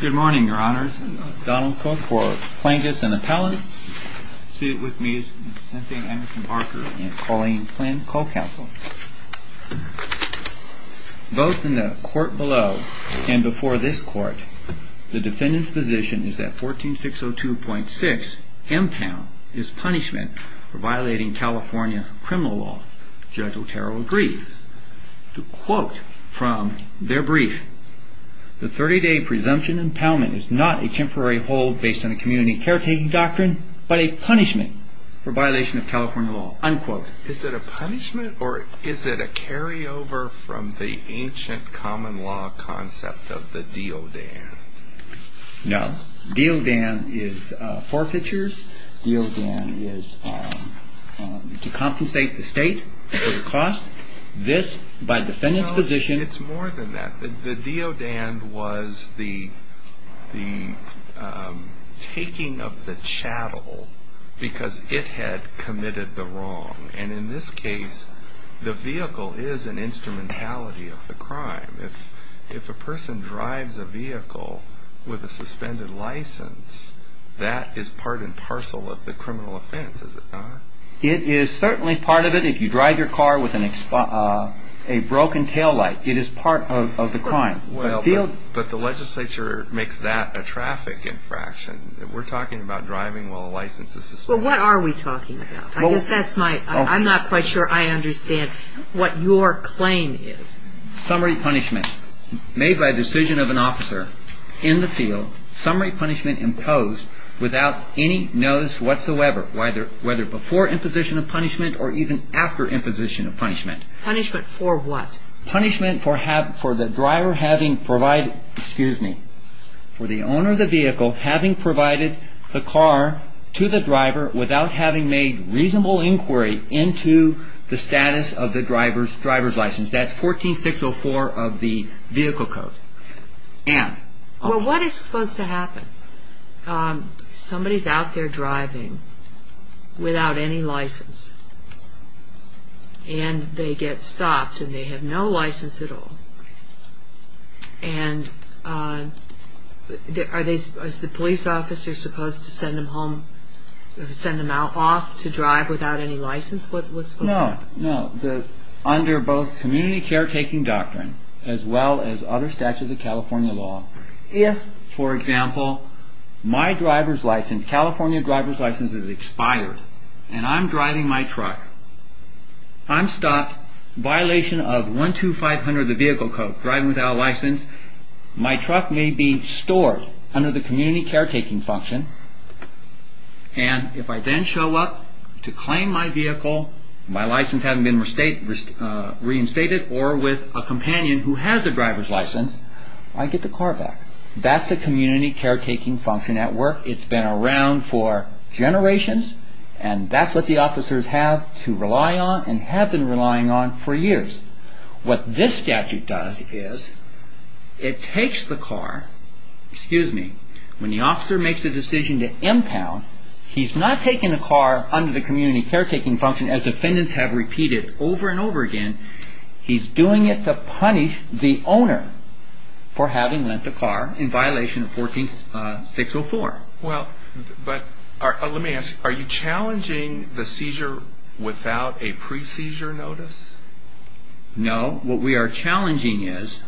Good morning, Your Honors. Donald Cook for Plaintiffs and Appellants, seated with me is Cynthia Anderson-Parker and Colleen Flynn, Co-Counsel. Both in the court below and before this court, the defendant's position is that 14602.6, M-Town, is punishment for violating California criminal law. Judge Otero agreed to quote from their brief, the 30-day presumption impoundment is not a temporary hold based on a community caretaking doctrine, but a punishment for violation of California law. Is it a punishment or is it a carryover from the ancient common law concept of the deal Dan? No. Deo Dan is forfeitures. Deo Dan is to compensate the state for the cost. This, by the defendant's position... It's more than that. The Deo Dan was the taking of the chattel because it had committed the wrong. And in this case, the vehicle is an instrumentality of the crime. If a person drives a vehicle with a suspended license, that is part and parcel of the criminal offense, is it not? It is certainly part of it. If you drive your car with a broken tail light, it is part of the crime. But the legislature makes that a traffic infraction. We're talking about driving while a license is suspended. Well, what are we talking about? I guess that's my... I'm not quite sure I understand what your claim is. Summary punishment made by decision of an officer in the field, summary punishment imposed without any notice whatsoever, whether before imposition of punishment or even after imposition of punishment. Punishment for what? Punishment for the driver having provided, excuse me, for the owner of the vehicle having provided the car to the driver without having made reasonable inquiry into the status of the driver's license. That's 14604 of the vehicle code. Well, what is supposed to happen? Somebody's out there driving without any license and they get stopped and they have no license at all. And is the police officer supposed to send them home, send them off to drive without any license? What's supposed to happen? No, no. Under both community caretaking doctrine as well as other statutes of California law, if, for example, my driver's license, California driver's license is expired and I'm driving my truck, I'm stopped, violation of 12500 of the vehicle code, driving without a license, my truck may be stored under the community caretaking function and if I then show up to claim my vehicle, my license hasn't been reinstated or with a companion who has a driver's license, I get the car back. That's the community caretaking function at work. It's been around for generations and that's what the officers have to rely on and have been relying on for years. What this statute does is it takes the car, excuse me, when the officer makes a decision to impound, he's not taking the car under the community caretaking function as defendants have repeated over and over again. He's doing it to punish the owner for having lent the car in violation of 14604. Well, but let me ask you, are you challenging the seizure without a pre-seizure notice? No. What we are challenging is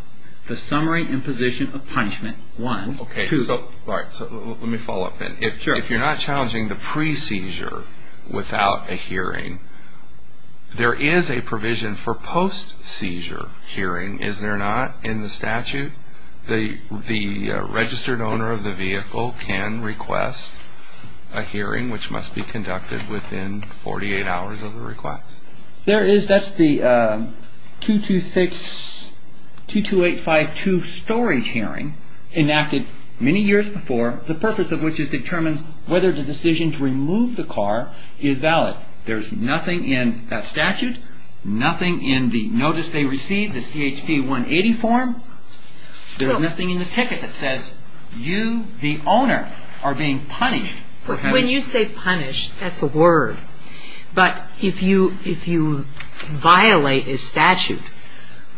the summary and position of punishment, one. Okay, so let me follow up then. Sure. So if you're not challenging the pre-seizure without a hearing, there is a provision for post-seizure hearing, is there not, in the statute? The registered owner of the vehicle can request a hearing which must be conducted within 48 hours of the request. There is, that's the 226, 22852 storage hearing enacted many years before, the purpose of which is to determine whether the decision to remove the car is valid. There's nothing in that statute, nothing in the notice they received, the CHP 180 form. There's nothing in the ticket that says you, the owner, are being punished for having When you say punished, that's a word. But if you violate a statute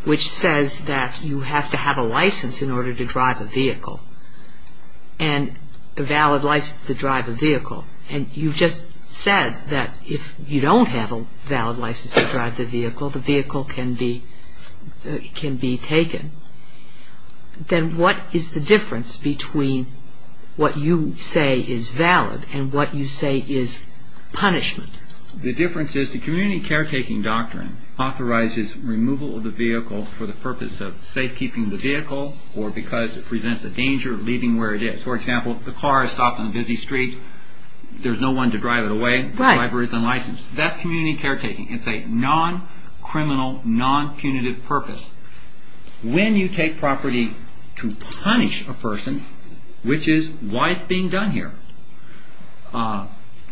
which says that you have to have a license in order to drive a vehicle, and a valid license to drive a vehicle, and you've just said that if you don't have a valid license to drive the vehicle, the vehicle can be taken, then what is the difference between what you say is valid and what you say is punishment? The difference is the community caretaking doctrine authorizes removal of the vehicle for the purpose of safekeeping the vehicle or because it presents a danger of leaving where it is. For example, if the car is stopped on a busy street, there's no one to drive it away, the driver is unlicensed. That's community caretaking. It's a non-criminal, non-punitive purpose. When you take property to punish a person, which is why it's being done here,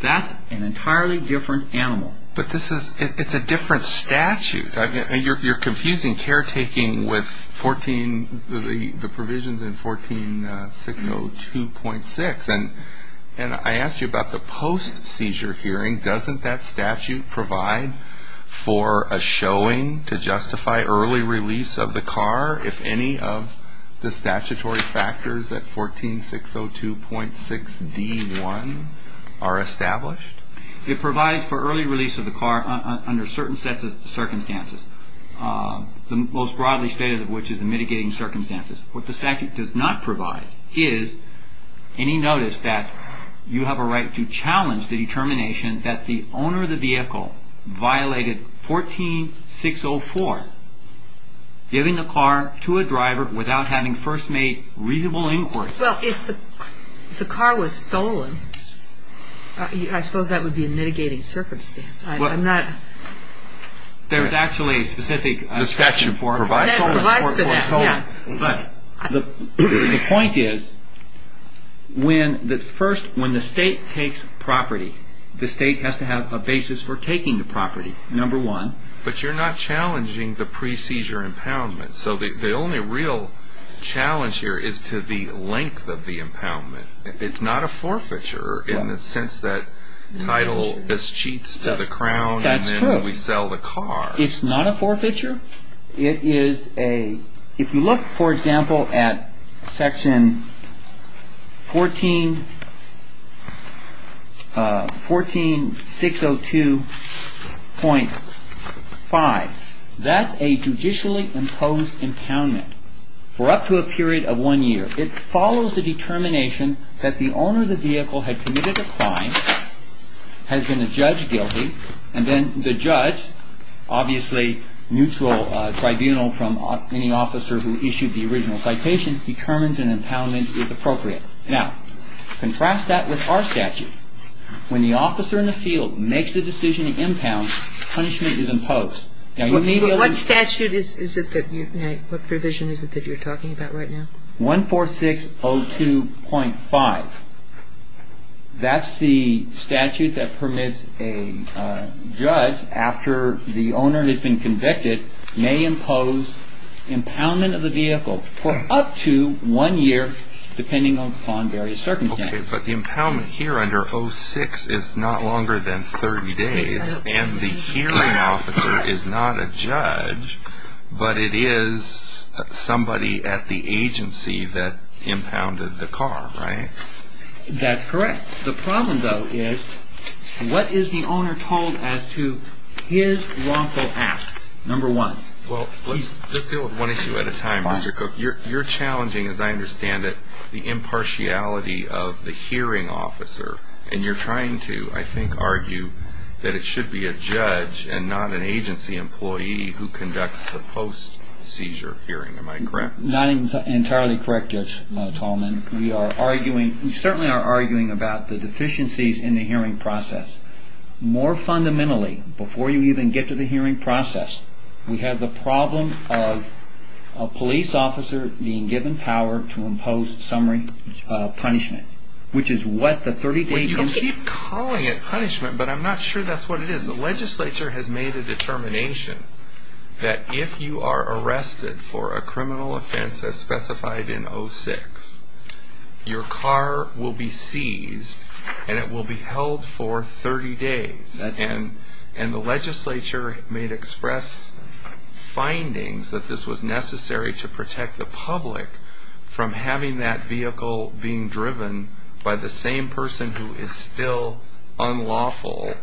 that's an entirely different animal. But this is, it's a different statute. And you're confusing caretaking with 14, the provisions in 14602.6. And I asked you about the post-seizure hearing. Doesn't that statute provide for a showing to justify early release of the car if any of the statutory factors at 14602.6d.1 are established? It provides for early release of the car under certain sets of circumstances, the most broadly stated of which is the mitigating circumstances. What the statute does not provide is any notice that you have a right to challenge the determination that the owner of the vehicle violated 14604, giving the car to a driver without having first made reasonable inquiry. Well, if the car was stolen, I suppose that would be a mitigating circumstance. I'm not... There's actually a specific... The statute provides for that, yeah. But the point is when the first, when the state takes property, the state has to have a basis for taking the property, number one. But you're not challenging the pre-seizure impoundment. So the only real challenge here is to the length of the impoundment. It's not a forfeiture in the sense that title is cheats to the crown and then we sell the car. It's not a forfeiture. It is a... So at section 14, 14602.5, that's a judicially imposed impoundment for up to a period of one year. It follows the determination that the owner of the vehicle had committed a crime, has been a judge guilty, and then the judge, obviously neutral tribunal from any officer who issued the original citation, determines an impoundment is appropriate. Now, contrast that with our statute. When the officer in the field makes the decision to impound, punishment is imposed. Now, you may be able to... But what statute is it that you've made? What provision is it that you're talking about right now? 14602.5. That's the statute that permits a judge, after the owner has been convicted, may impose impoundment of the vehicle for up to one year, depending upon various circumstances. Okay, but the impoundment here under 06 is not longer than 30 days, and the hearing officer is not a judge, but it is somebody at the agency that impounded the car, right? That's correct. The problem, though, is what is the owner told as to his wrongful act, number one? Well, let's deal with one issue at a time, Mr. Cook. You're challenging, as I understand it, the impartiality of the hearing officer, and you're trying to, I think, argue that it should be a judge and not an agency employee who conducts the post-seizure hearing. Am I correct? Not entirely correct, Judge Tallman. We certainly are arguing about the deficiencies in the hearing process. More fundamentally, before you even get to the hearing process, we have the problem of a police officer being given power to impose summary punishment, which is what the 30 days is? You keep calling it punishment, but I'm not sure that's what it is. The legislature has made a determination that if you are arrested for a criminal offense as specified in 06, your car will be seized, and it will be held for 30 days. And the legislature made express findings that this was necessary to protect the public from having that vehicle being driven by the same person who is still unlawful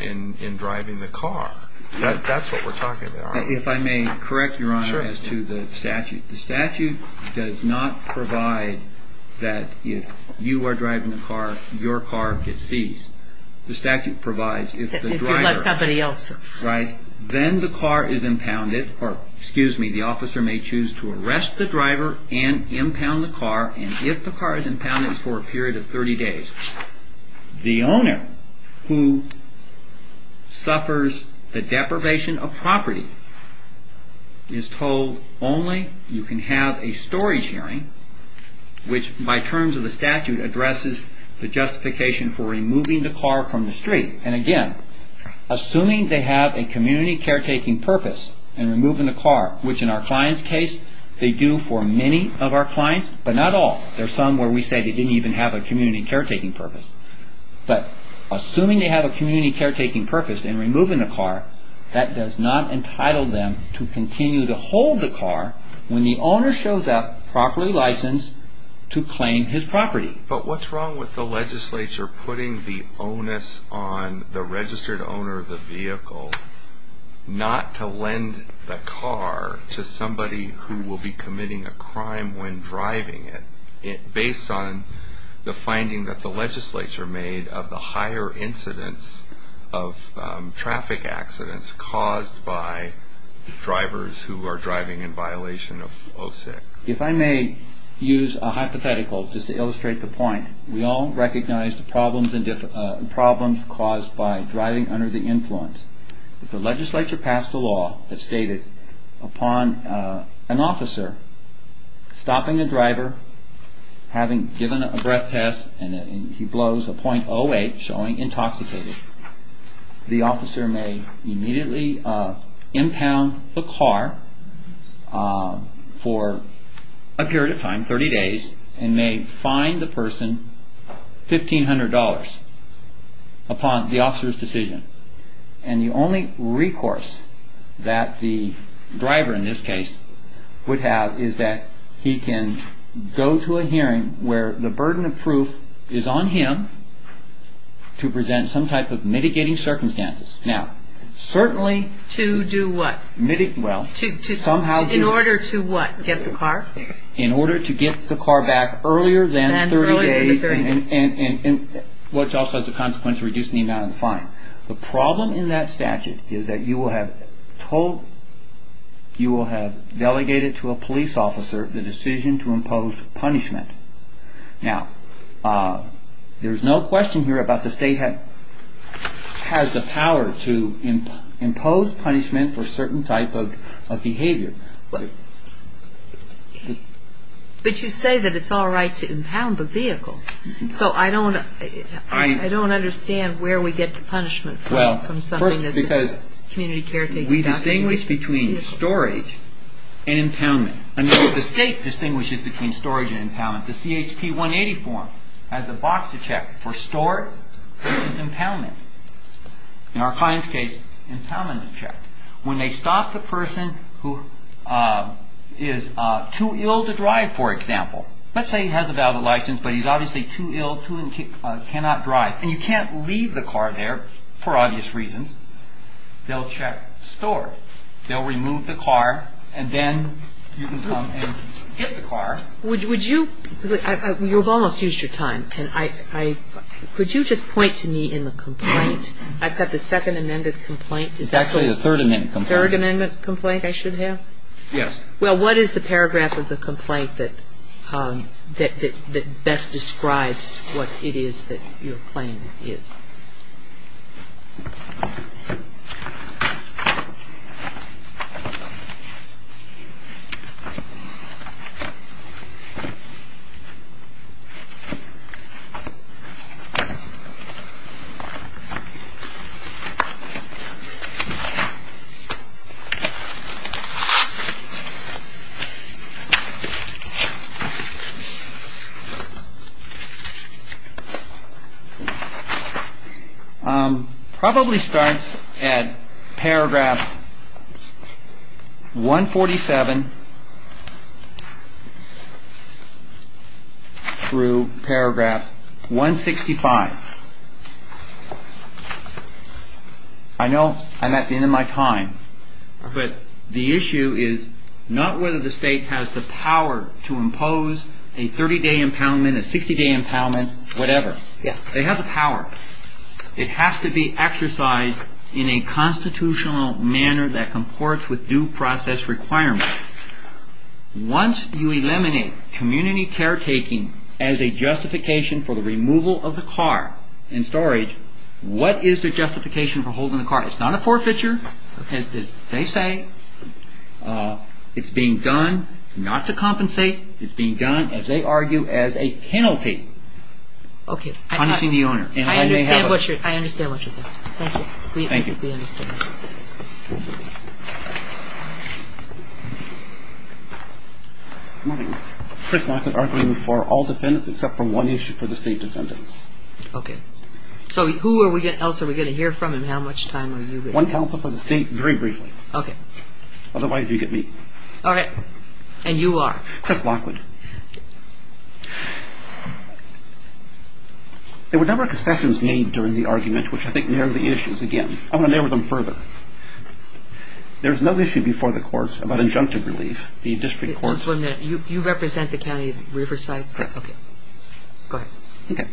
in driving the car. That's what we're talking about. If I may correct, Your Honor, as to the statute. The statute does not provide that if you are driving the car, your car gets seized. The statute provides if the driver... If you let somebody else drive. Right? Then the car is impounded, or excuse me, the officer may choose to arrest the driver and impound the car, and if the car is impounded, it's for a period of 30 days. The owner who suffers the deprivation of property is told only you can have a storage hearing, which by terms of the statute addresses the justification for removing the car from the street. And again, assuming they have a community caretaking purpose in removing the car, which in our client's case, they do for many of our clients, but not all. There are some where we say they didn't even have a community caretaking purpose. But assuming they have a community caretaking purpose in removing the car, that does not entitle them to continue to hold the car when the owner shows up properly licensed to claim his property. But what's wrong with the legislature putting the onus on the registered owner of the vehicle not to lend the car to somebody who will be committing a crime when driving it, based on the finding that the legislature made of the higher incidence of traffic accidents caused by drivers who are driving in violation of OSIC? If I may use a hypothetical just to illustrate the point, we all recognize the problems caused by driving under the influence. If the legislature passed a law that stated upon an officer stopping a driver, having given a breath test and he blows a .08 showing intoxicated, the officer may immediately impound the car for a period of time, 30 days, and may fine the person $1,500 upon the officer's decision. And the only recourse that the driver in this case would have is that he can go to a hearing where the burden of proof is on him to present some type of mitigating circumstances. Now, certainly... To do what? Well... In order to what? Get the car? In order to get the car back earlier than 30 days, which also has the consequence of reducing the amount of the fine. The problem in that statute is that you will have told, the decision to impose punishment. Now, there's no question here about the state has the power to impose punishment for a certain type of behavior. Right. But you say that it's all right to impound the vehicle. So I don't understand where we get the punishment from. First, because we distinguish between storage and impoundment. The state distinguishes between storage and impoundment. The CHP 180 form has a box to check for storage and impoundment. In our client's case, impoundment is checked. When they stop the person who is too ill to drive, for example, let's say he has a valid license, but he's obviously too ill, cannot drive, and you can't leave the car there for obvious reasons, they'll check storage. They'll remove the car, and then you can come and get the car. Would you – you've almost used your time. Could you just point to me in the complaint? I've got the Second Amendment complaint. It's actually the Third Amendment complaint. Third Amendment complaint I should have? Yes. Well, what is the paragraph of the complaint that best describes what it is that your claim is? It probably starts at paragraph 147 through paragraph 165. I know I'm at the end of my time, but the issue is not whether the state has the power to impose a 30-day impoundment, a 60-day impoundment, whatever. Yes. They have the power. It has to be exercised in a constitutional manner that comports with due process requirements. Once you eliminate community caretaking as a justification for the removal of the car and storage, what is the justification for holding the car? It's not a forfeiture, as they say. It's being done not to compensate. It's being done, as they argue, as a penalty. Okay. Punishing the owner. I understand what you're saying. Thank you. Thank you. Good morning. Chris Lockwood, arguing for all defendants except for one issue for the state defendants. Okay. So who else are we going to hear from, and how much time are you going to have? One counsel for the state, very briefly. Okay. Otherwise, you get me. All right. And you are? Chris Lockwood. There were a number of concessions made during the argument, which I think narrowed the issues again. I want to narrow them further. There's no issue before the courts about injunctive relief. The district courts... Just one minute. You represent the county of Riverside? Correct. Okay. Go ahead. Okay.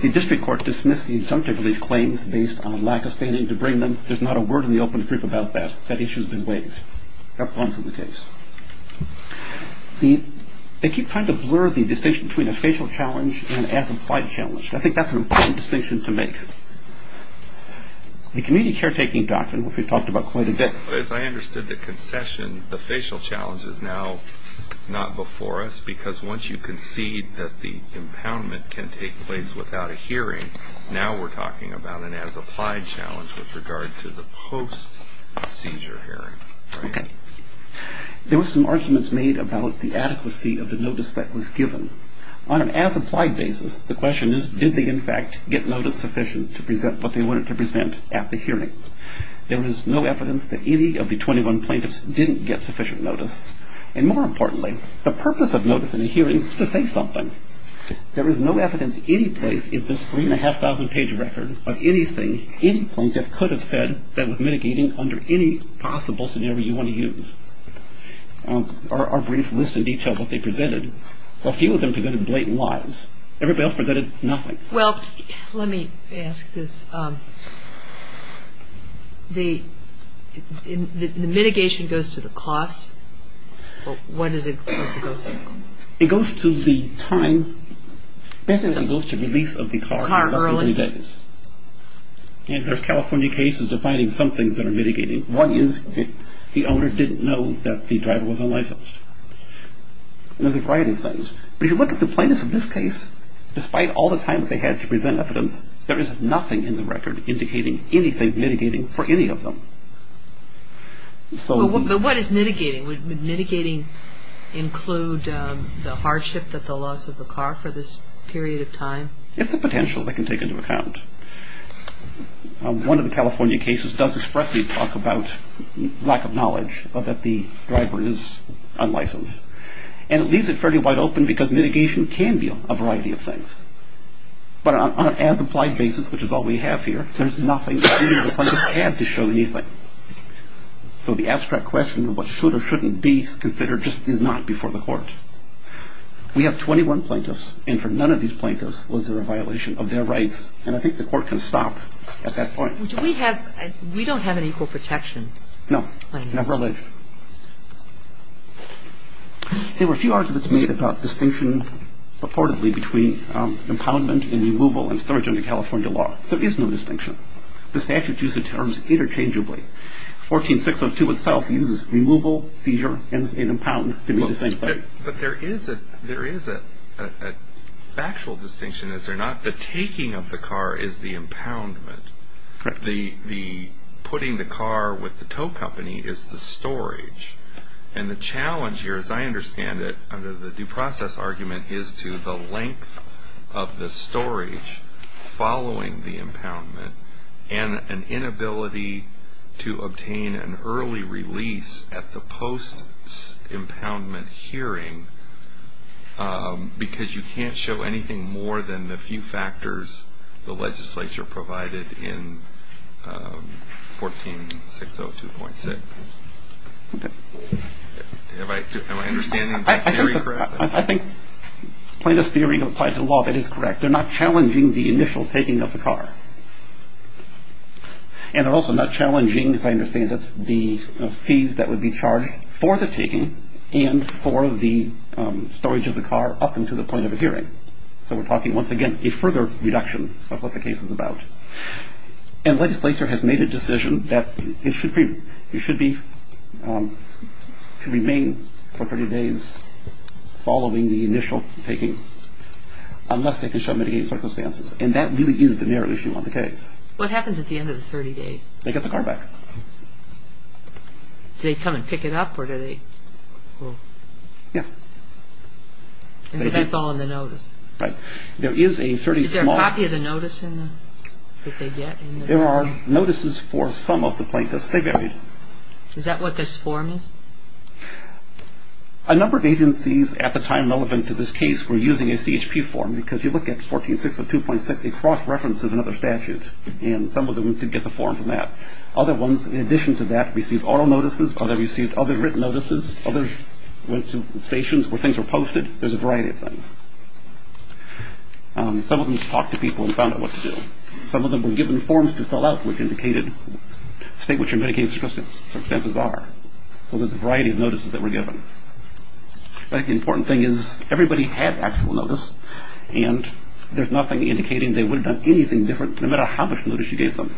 The district court dismissed the injunctive relief claims based on a lack of standing to bring them. There's not a word in the open group about that. That issue has been waived. That's gone from the case. They keep trying to blur the distinction between a facial challenge and an as-implied challenge. I think that's an important distinction to make. The community caretaking doctrine, which we've talked about quite a bit... As I understood the concession, the facial challenge is now not before us, because once you concede that the impoundment can take place without a hearing, now we're talking about an as-applied challenge with regard to the post-seizure hearing. Okay. There were some arguments made about the adequacy of the notice that was given. On an as-implied basis, the question is, did they, in fact, get notice sufficient to present what they wanted to present at the hearing? There was no evidence that any of the 21 plaintiffs didn't get sufficient notice. And more importantly, the purpose of notice in a hearing is to say something. There is no evidence anyplace in this 3,500-page record of anything any plaintiff could have said that was mitigating under any possible scenario you want to use. Our brief list in detail of what they presented. A few of them presented blatant lies. Everybody else presented nothing. Well, let me ask this. The mitigation goes to the cost. What is it supposed to go to? It goes to the time. Basically, it goes to release of the car. Car early. And there's California cases defining some things that are mitigating. One is the owner didn't know that the driver was unlicensed. There's a variety of things. But if you look at the plaintiffs in this case, despite all the time that they had to present evidence, there is nothing in the record indicating anything mitigating for any of them. But what is mitigating? Would mitigating include the hardship, the loss of the car for this period of time? It's the potential they can take into account. One of the California cases does expressly talk about lack of knowledge, that the driver is unlicensed. And it leaves it fairly wide open because mitigation can be a variety of things. But on an as-implied basis, which is all we have here, there's nothing the plaintiffs had to show anything. So the abstract question of what should or shouldn't be considered just is not before the court. We have 21 plaintiffs, and for none of these plaintiffs was there a violation of their rights. And I think the court can stop at that point. We don't have an equal protection. No. Never alleged. There were a few arguments made about distinction, reportedly, between impoundment and removal and storage under California law. There is no distinction. The statutes use the terms interchangeably. 14602 itself uses removal, seizure, and impound to be the same thing. But there is a factual distinction, is there not? The taking of the car is the impoundment. The putting the car with the tow company is the storage. And the challenge here, as I understand it, under the due process argument, is to the length of the storage following the impoundment and an inability to obtain an early release at the post-impoundment hearing because you can't show anything more than the few factors the legislature provided in 14602.6. Okay. Am I understanding the theory correctly? I think plaintiff's theory applies to law. That is correct. They're not challenging the initial taking of the car. And they're also not challenging, as I understand it, the fees that would be charged for the taking and for the storage of the car up until the point of a hearing. So we're talking, once again, a further reduction of what the case is about. And the legislature has made a decision that it should be to remain for 30 days following the initial taking unless they can show mitigating circumstances. And that really is the narrow issue on the case. What happens at the end of the 30 days? They get the car back. Do they come and pick it up or do they? Yeah. So that's all in the notice. Right. Is there a copy of the notice that they get? There are notices for some of the plaintiffs. Is that what this form is? A number of agencies at the time relevant to this case were using a CHP form because you look at 14.6 of 2.6, it cross-references another statute. And some of them did get the form from that. Other ones, in addition to that, received oral notices. Others received other written notices. Others went to stations where things were posted. There's a variety of things. Some of them just talked to people and found out what to do. Some of them were given forms to fill out which indicated state what your mitigating circumstances are. So there's a variety of notices that were given. But the important thing is everybody had actual notice, and there's nothing indicating they would have done anything different, no matter how much notice you gave them.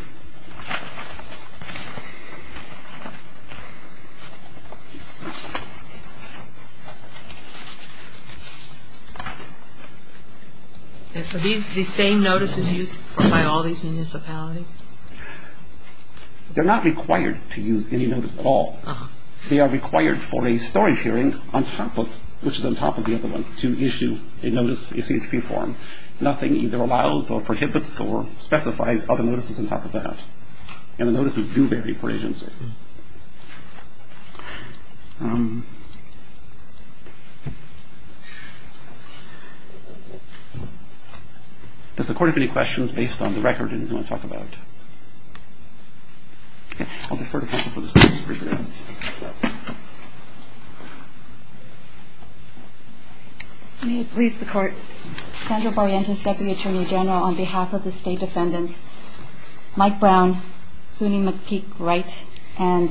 Are these the same notices used by all these municipalities? They're not required to use any notice at all. They are required for a storage hearing on top of, which is on top of the other one, to issue a notice, a CHP form. Nothing either allows or prohibits or specifies other notices on top of that. And the notices do vary per agency. Does the Court have any questions based on the record? Anything you want to talk about? Okay. I'll defer to counsel for this one. May it please the Court. Sandra Barrientos, Deputy Attorney General, on behalf of the State Defendants. Mike Brown, Sunni McPeak Wright, and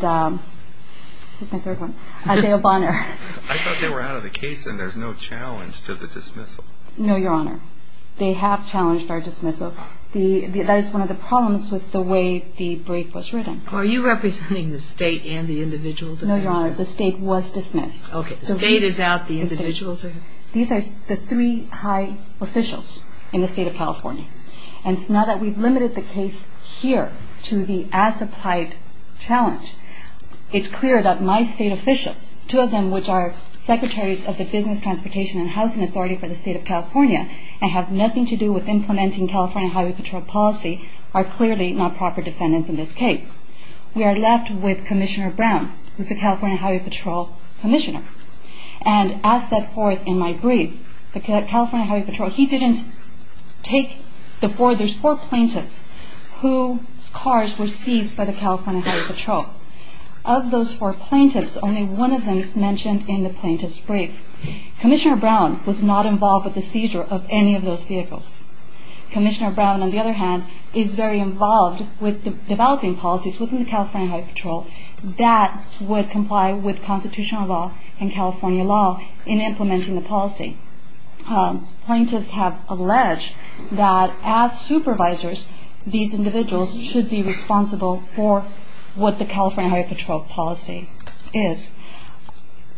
who's my third one? Dale Bonner. I thought they were out of the case, and there's no challenge to the dismissal. No, Your Honor. They have challenged our dismissal. That is one of the problems with the way the break was written. Are you representing the State and the individual defendants? No, Your Honor. The State was dismissed. Okay. The individuals are out. These are the three high officials in the State of California. And now that we've limited the case here to the as-applied challenge, it's clear that my State officials, two of them which are Secretaries of the Business, Transportation, and Housing Authority for the State of California, and have nothing to do with implementing California Highway Patrol policy, are clearly not proper defendants in this case. We are left with Commissioner Brown, who's the California Highway Patrol Commissioner. And as set forth in my brief, the California Highway Patrol, he didn't take the four plaintiffs whose cars were seized by the California Highway Patrol. Of those four plaintiffs, only one of them is mentioned in the plaintiff's brief. Commissioner Brown was not involved with the seizure of any of those vehicles. Commissioner Brown, on the other hand, is very involved with developing policies within the California Highway Patrol that would comply with constitutional law and California law in implementing the policy. Plaintiffs have alleged that as supervisors, these individuals should be responsible for what the California Highway Patrol policy is.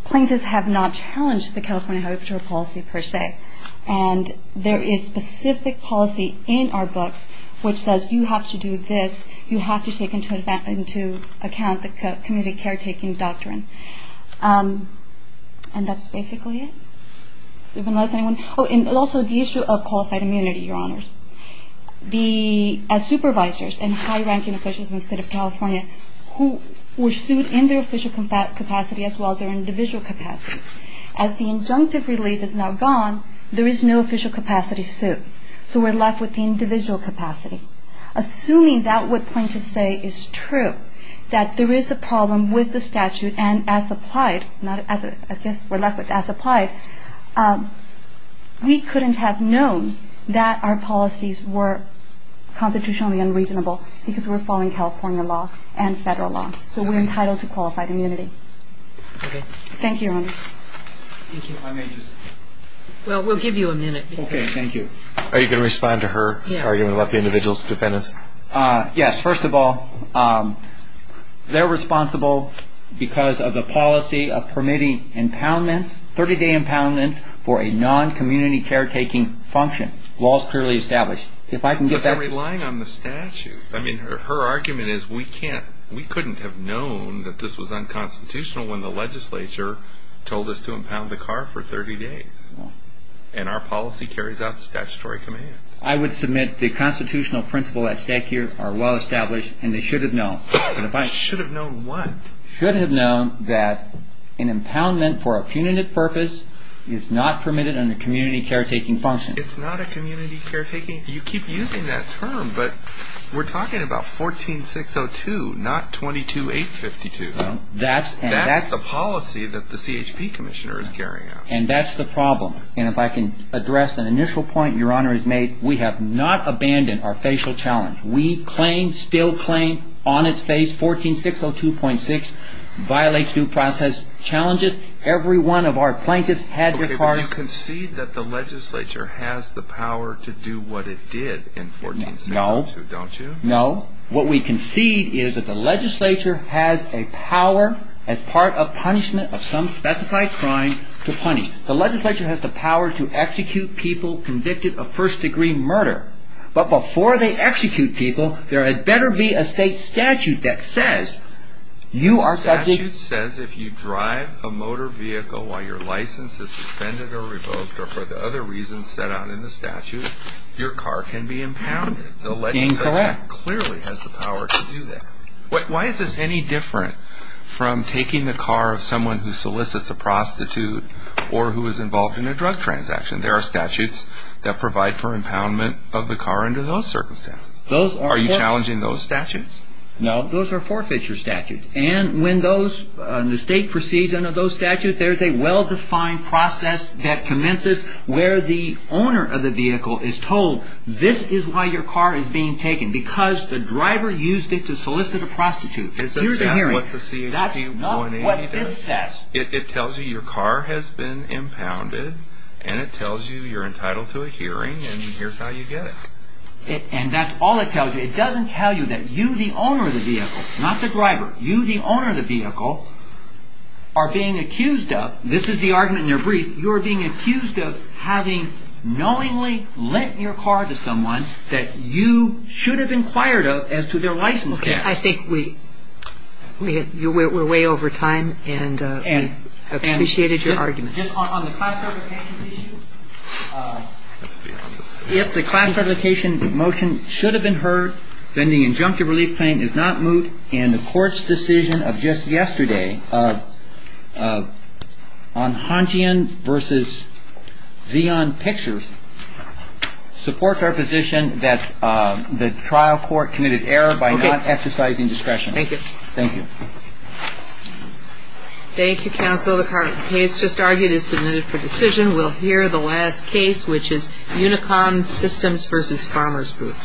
Plaintiffs have not challenged the California Highway Patrol policy per se. And there is specific policy in our books which says you have to do this, you have to take into account the community caretaking doctrine. And that's basically it. Also, the issue of qualified immunity, Your Honors. As supervisors and high-ranking officials in the State of California who were sued in their official capacity as well as their individual capacity. As the injunctive relief is now gone, there is no official capacity to sue. So we're left with the individual capacity. Assuming that what plaintiffs say is true, that there is a problem with the statute and as applied, not as I guess we're left with, as applied, we couldn't have known that our policies were constitutionally unreasonable because we were following California law and Federal law. So we're entitled to qualified immunity. Okay. Thank you, Your Honors. Thank you. I may use it. Well, we'll give you a minute. Okay. Thank you. Are you going to respond to her? Are you going to let the individual defendants? Yes. First of all, they're responsible because of the policy of permitting impoundments, 30-day impoundments for a non-community caretaking function. The law is clearly established. But they're relying on the statute. I mean, her argument is we couldn't have known that this was unconstitutional when the legislature told us to impound the car for 30 days. And our policy carries out statutory command. I would submit the constitutional principles at stake here are well-established and they should have known. Should have known what? Should have known that an impoundment for a punitive purpose is not permitted under community caretaking function. It's not a community caretaking? You keep using that term. But we're talking about 14602, not 22852. That's the policy that the CHP commissioner is carrying out. And that's the problem. And if I can address an initial point Your Honor has made, we have not abandoned our facial challenge. We claim, still claim, on its face, 14602.6 violates due process challenges. Every one of our plaintiffs had their cards. Okay, but you concede that the legislature has the power to do what it did in 14602, don't you? No. What we concede is that the legislature has a power as part of punishment of some specified crime to punish. The legislature has the power to execute people convicted of first-degree murder. But before they execute people, there had better be a state statute that says you are subject The statute says if you drive a motor vehicle while your license is suspended or revoked or for the other reasons set out in the statute, your car can be impounded. Incorrect. The legislature clearly has the power to do that. Why is this any different from taking the car of someone who solicits a prostitute or who is involved in a drug transaction? There are statutes that provide for impoundment of the car under those circumstances. Are you challenging those statutes? No, those are forfeiture statutes. And when the state proceeds under those statutes, there is a well-defined process that commences where the owner of the vehicle is told this is why your car is being taken. Because the driver used it to solicit a prostitute. Here's a hearing. That's not what this says. It tells you your car has been impounded and it tells you you're entitled to a hearing and here's how you get it. And that's all it tells you. It doesn't tell you that you the owner of the vehicle, not the driver, you the owner of the vehicle are being accused of, this is the argument in your brief, you are being accused of having knowingly lent your car to someone that you should have inquired of as to their license tax. Okay. I think we're way over time and appreciated your argument. Just on the class certification issue, if the class certification motion should have been heard, then the injunctive relief claim is not moot and the court's decision of just yesterday on Huntian v. Xeon Pictures supports our position that the trial court committed error by not exercising discretion. Thank you. Thank you. Thank you, counsel. The current case just argued is submitted for decision. We'll hear the last case, which is Unicom Systems v. Farmers Group.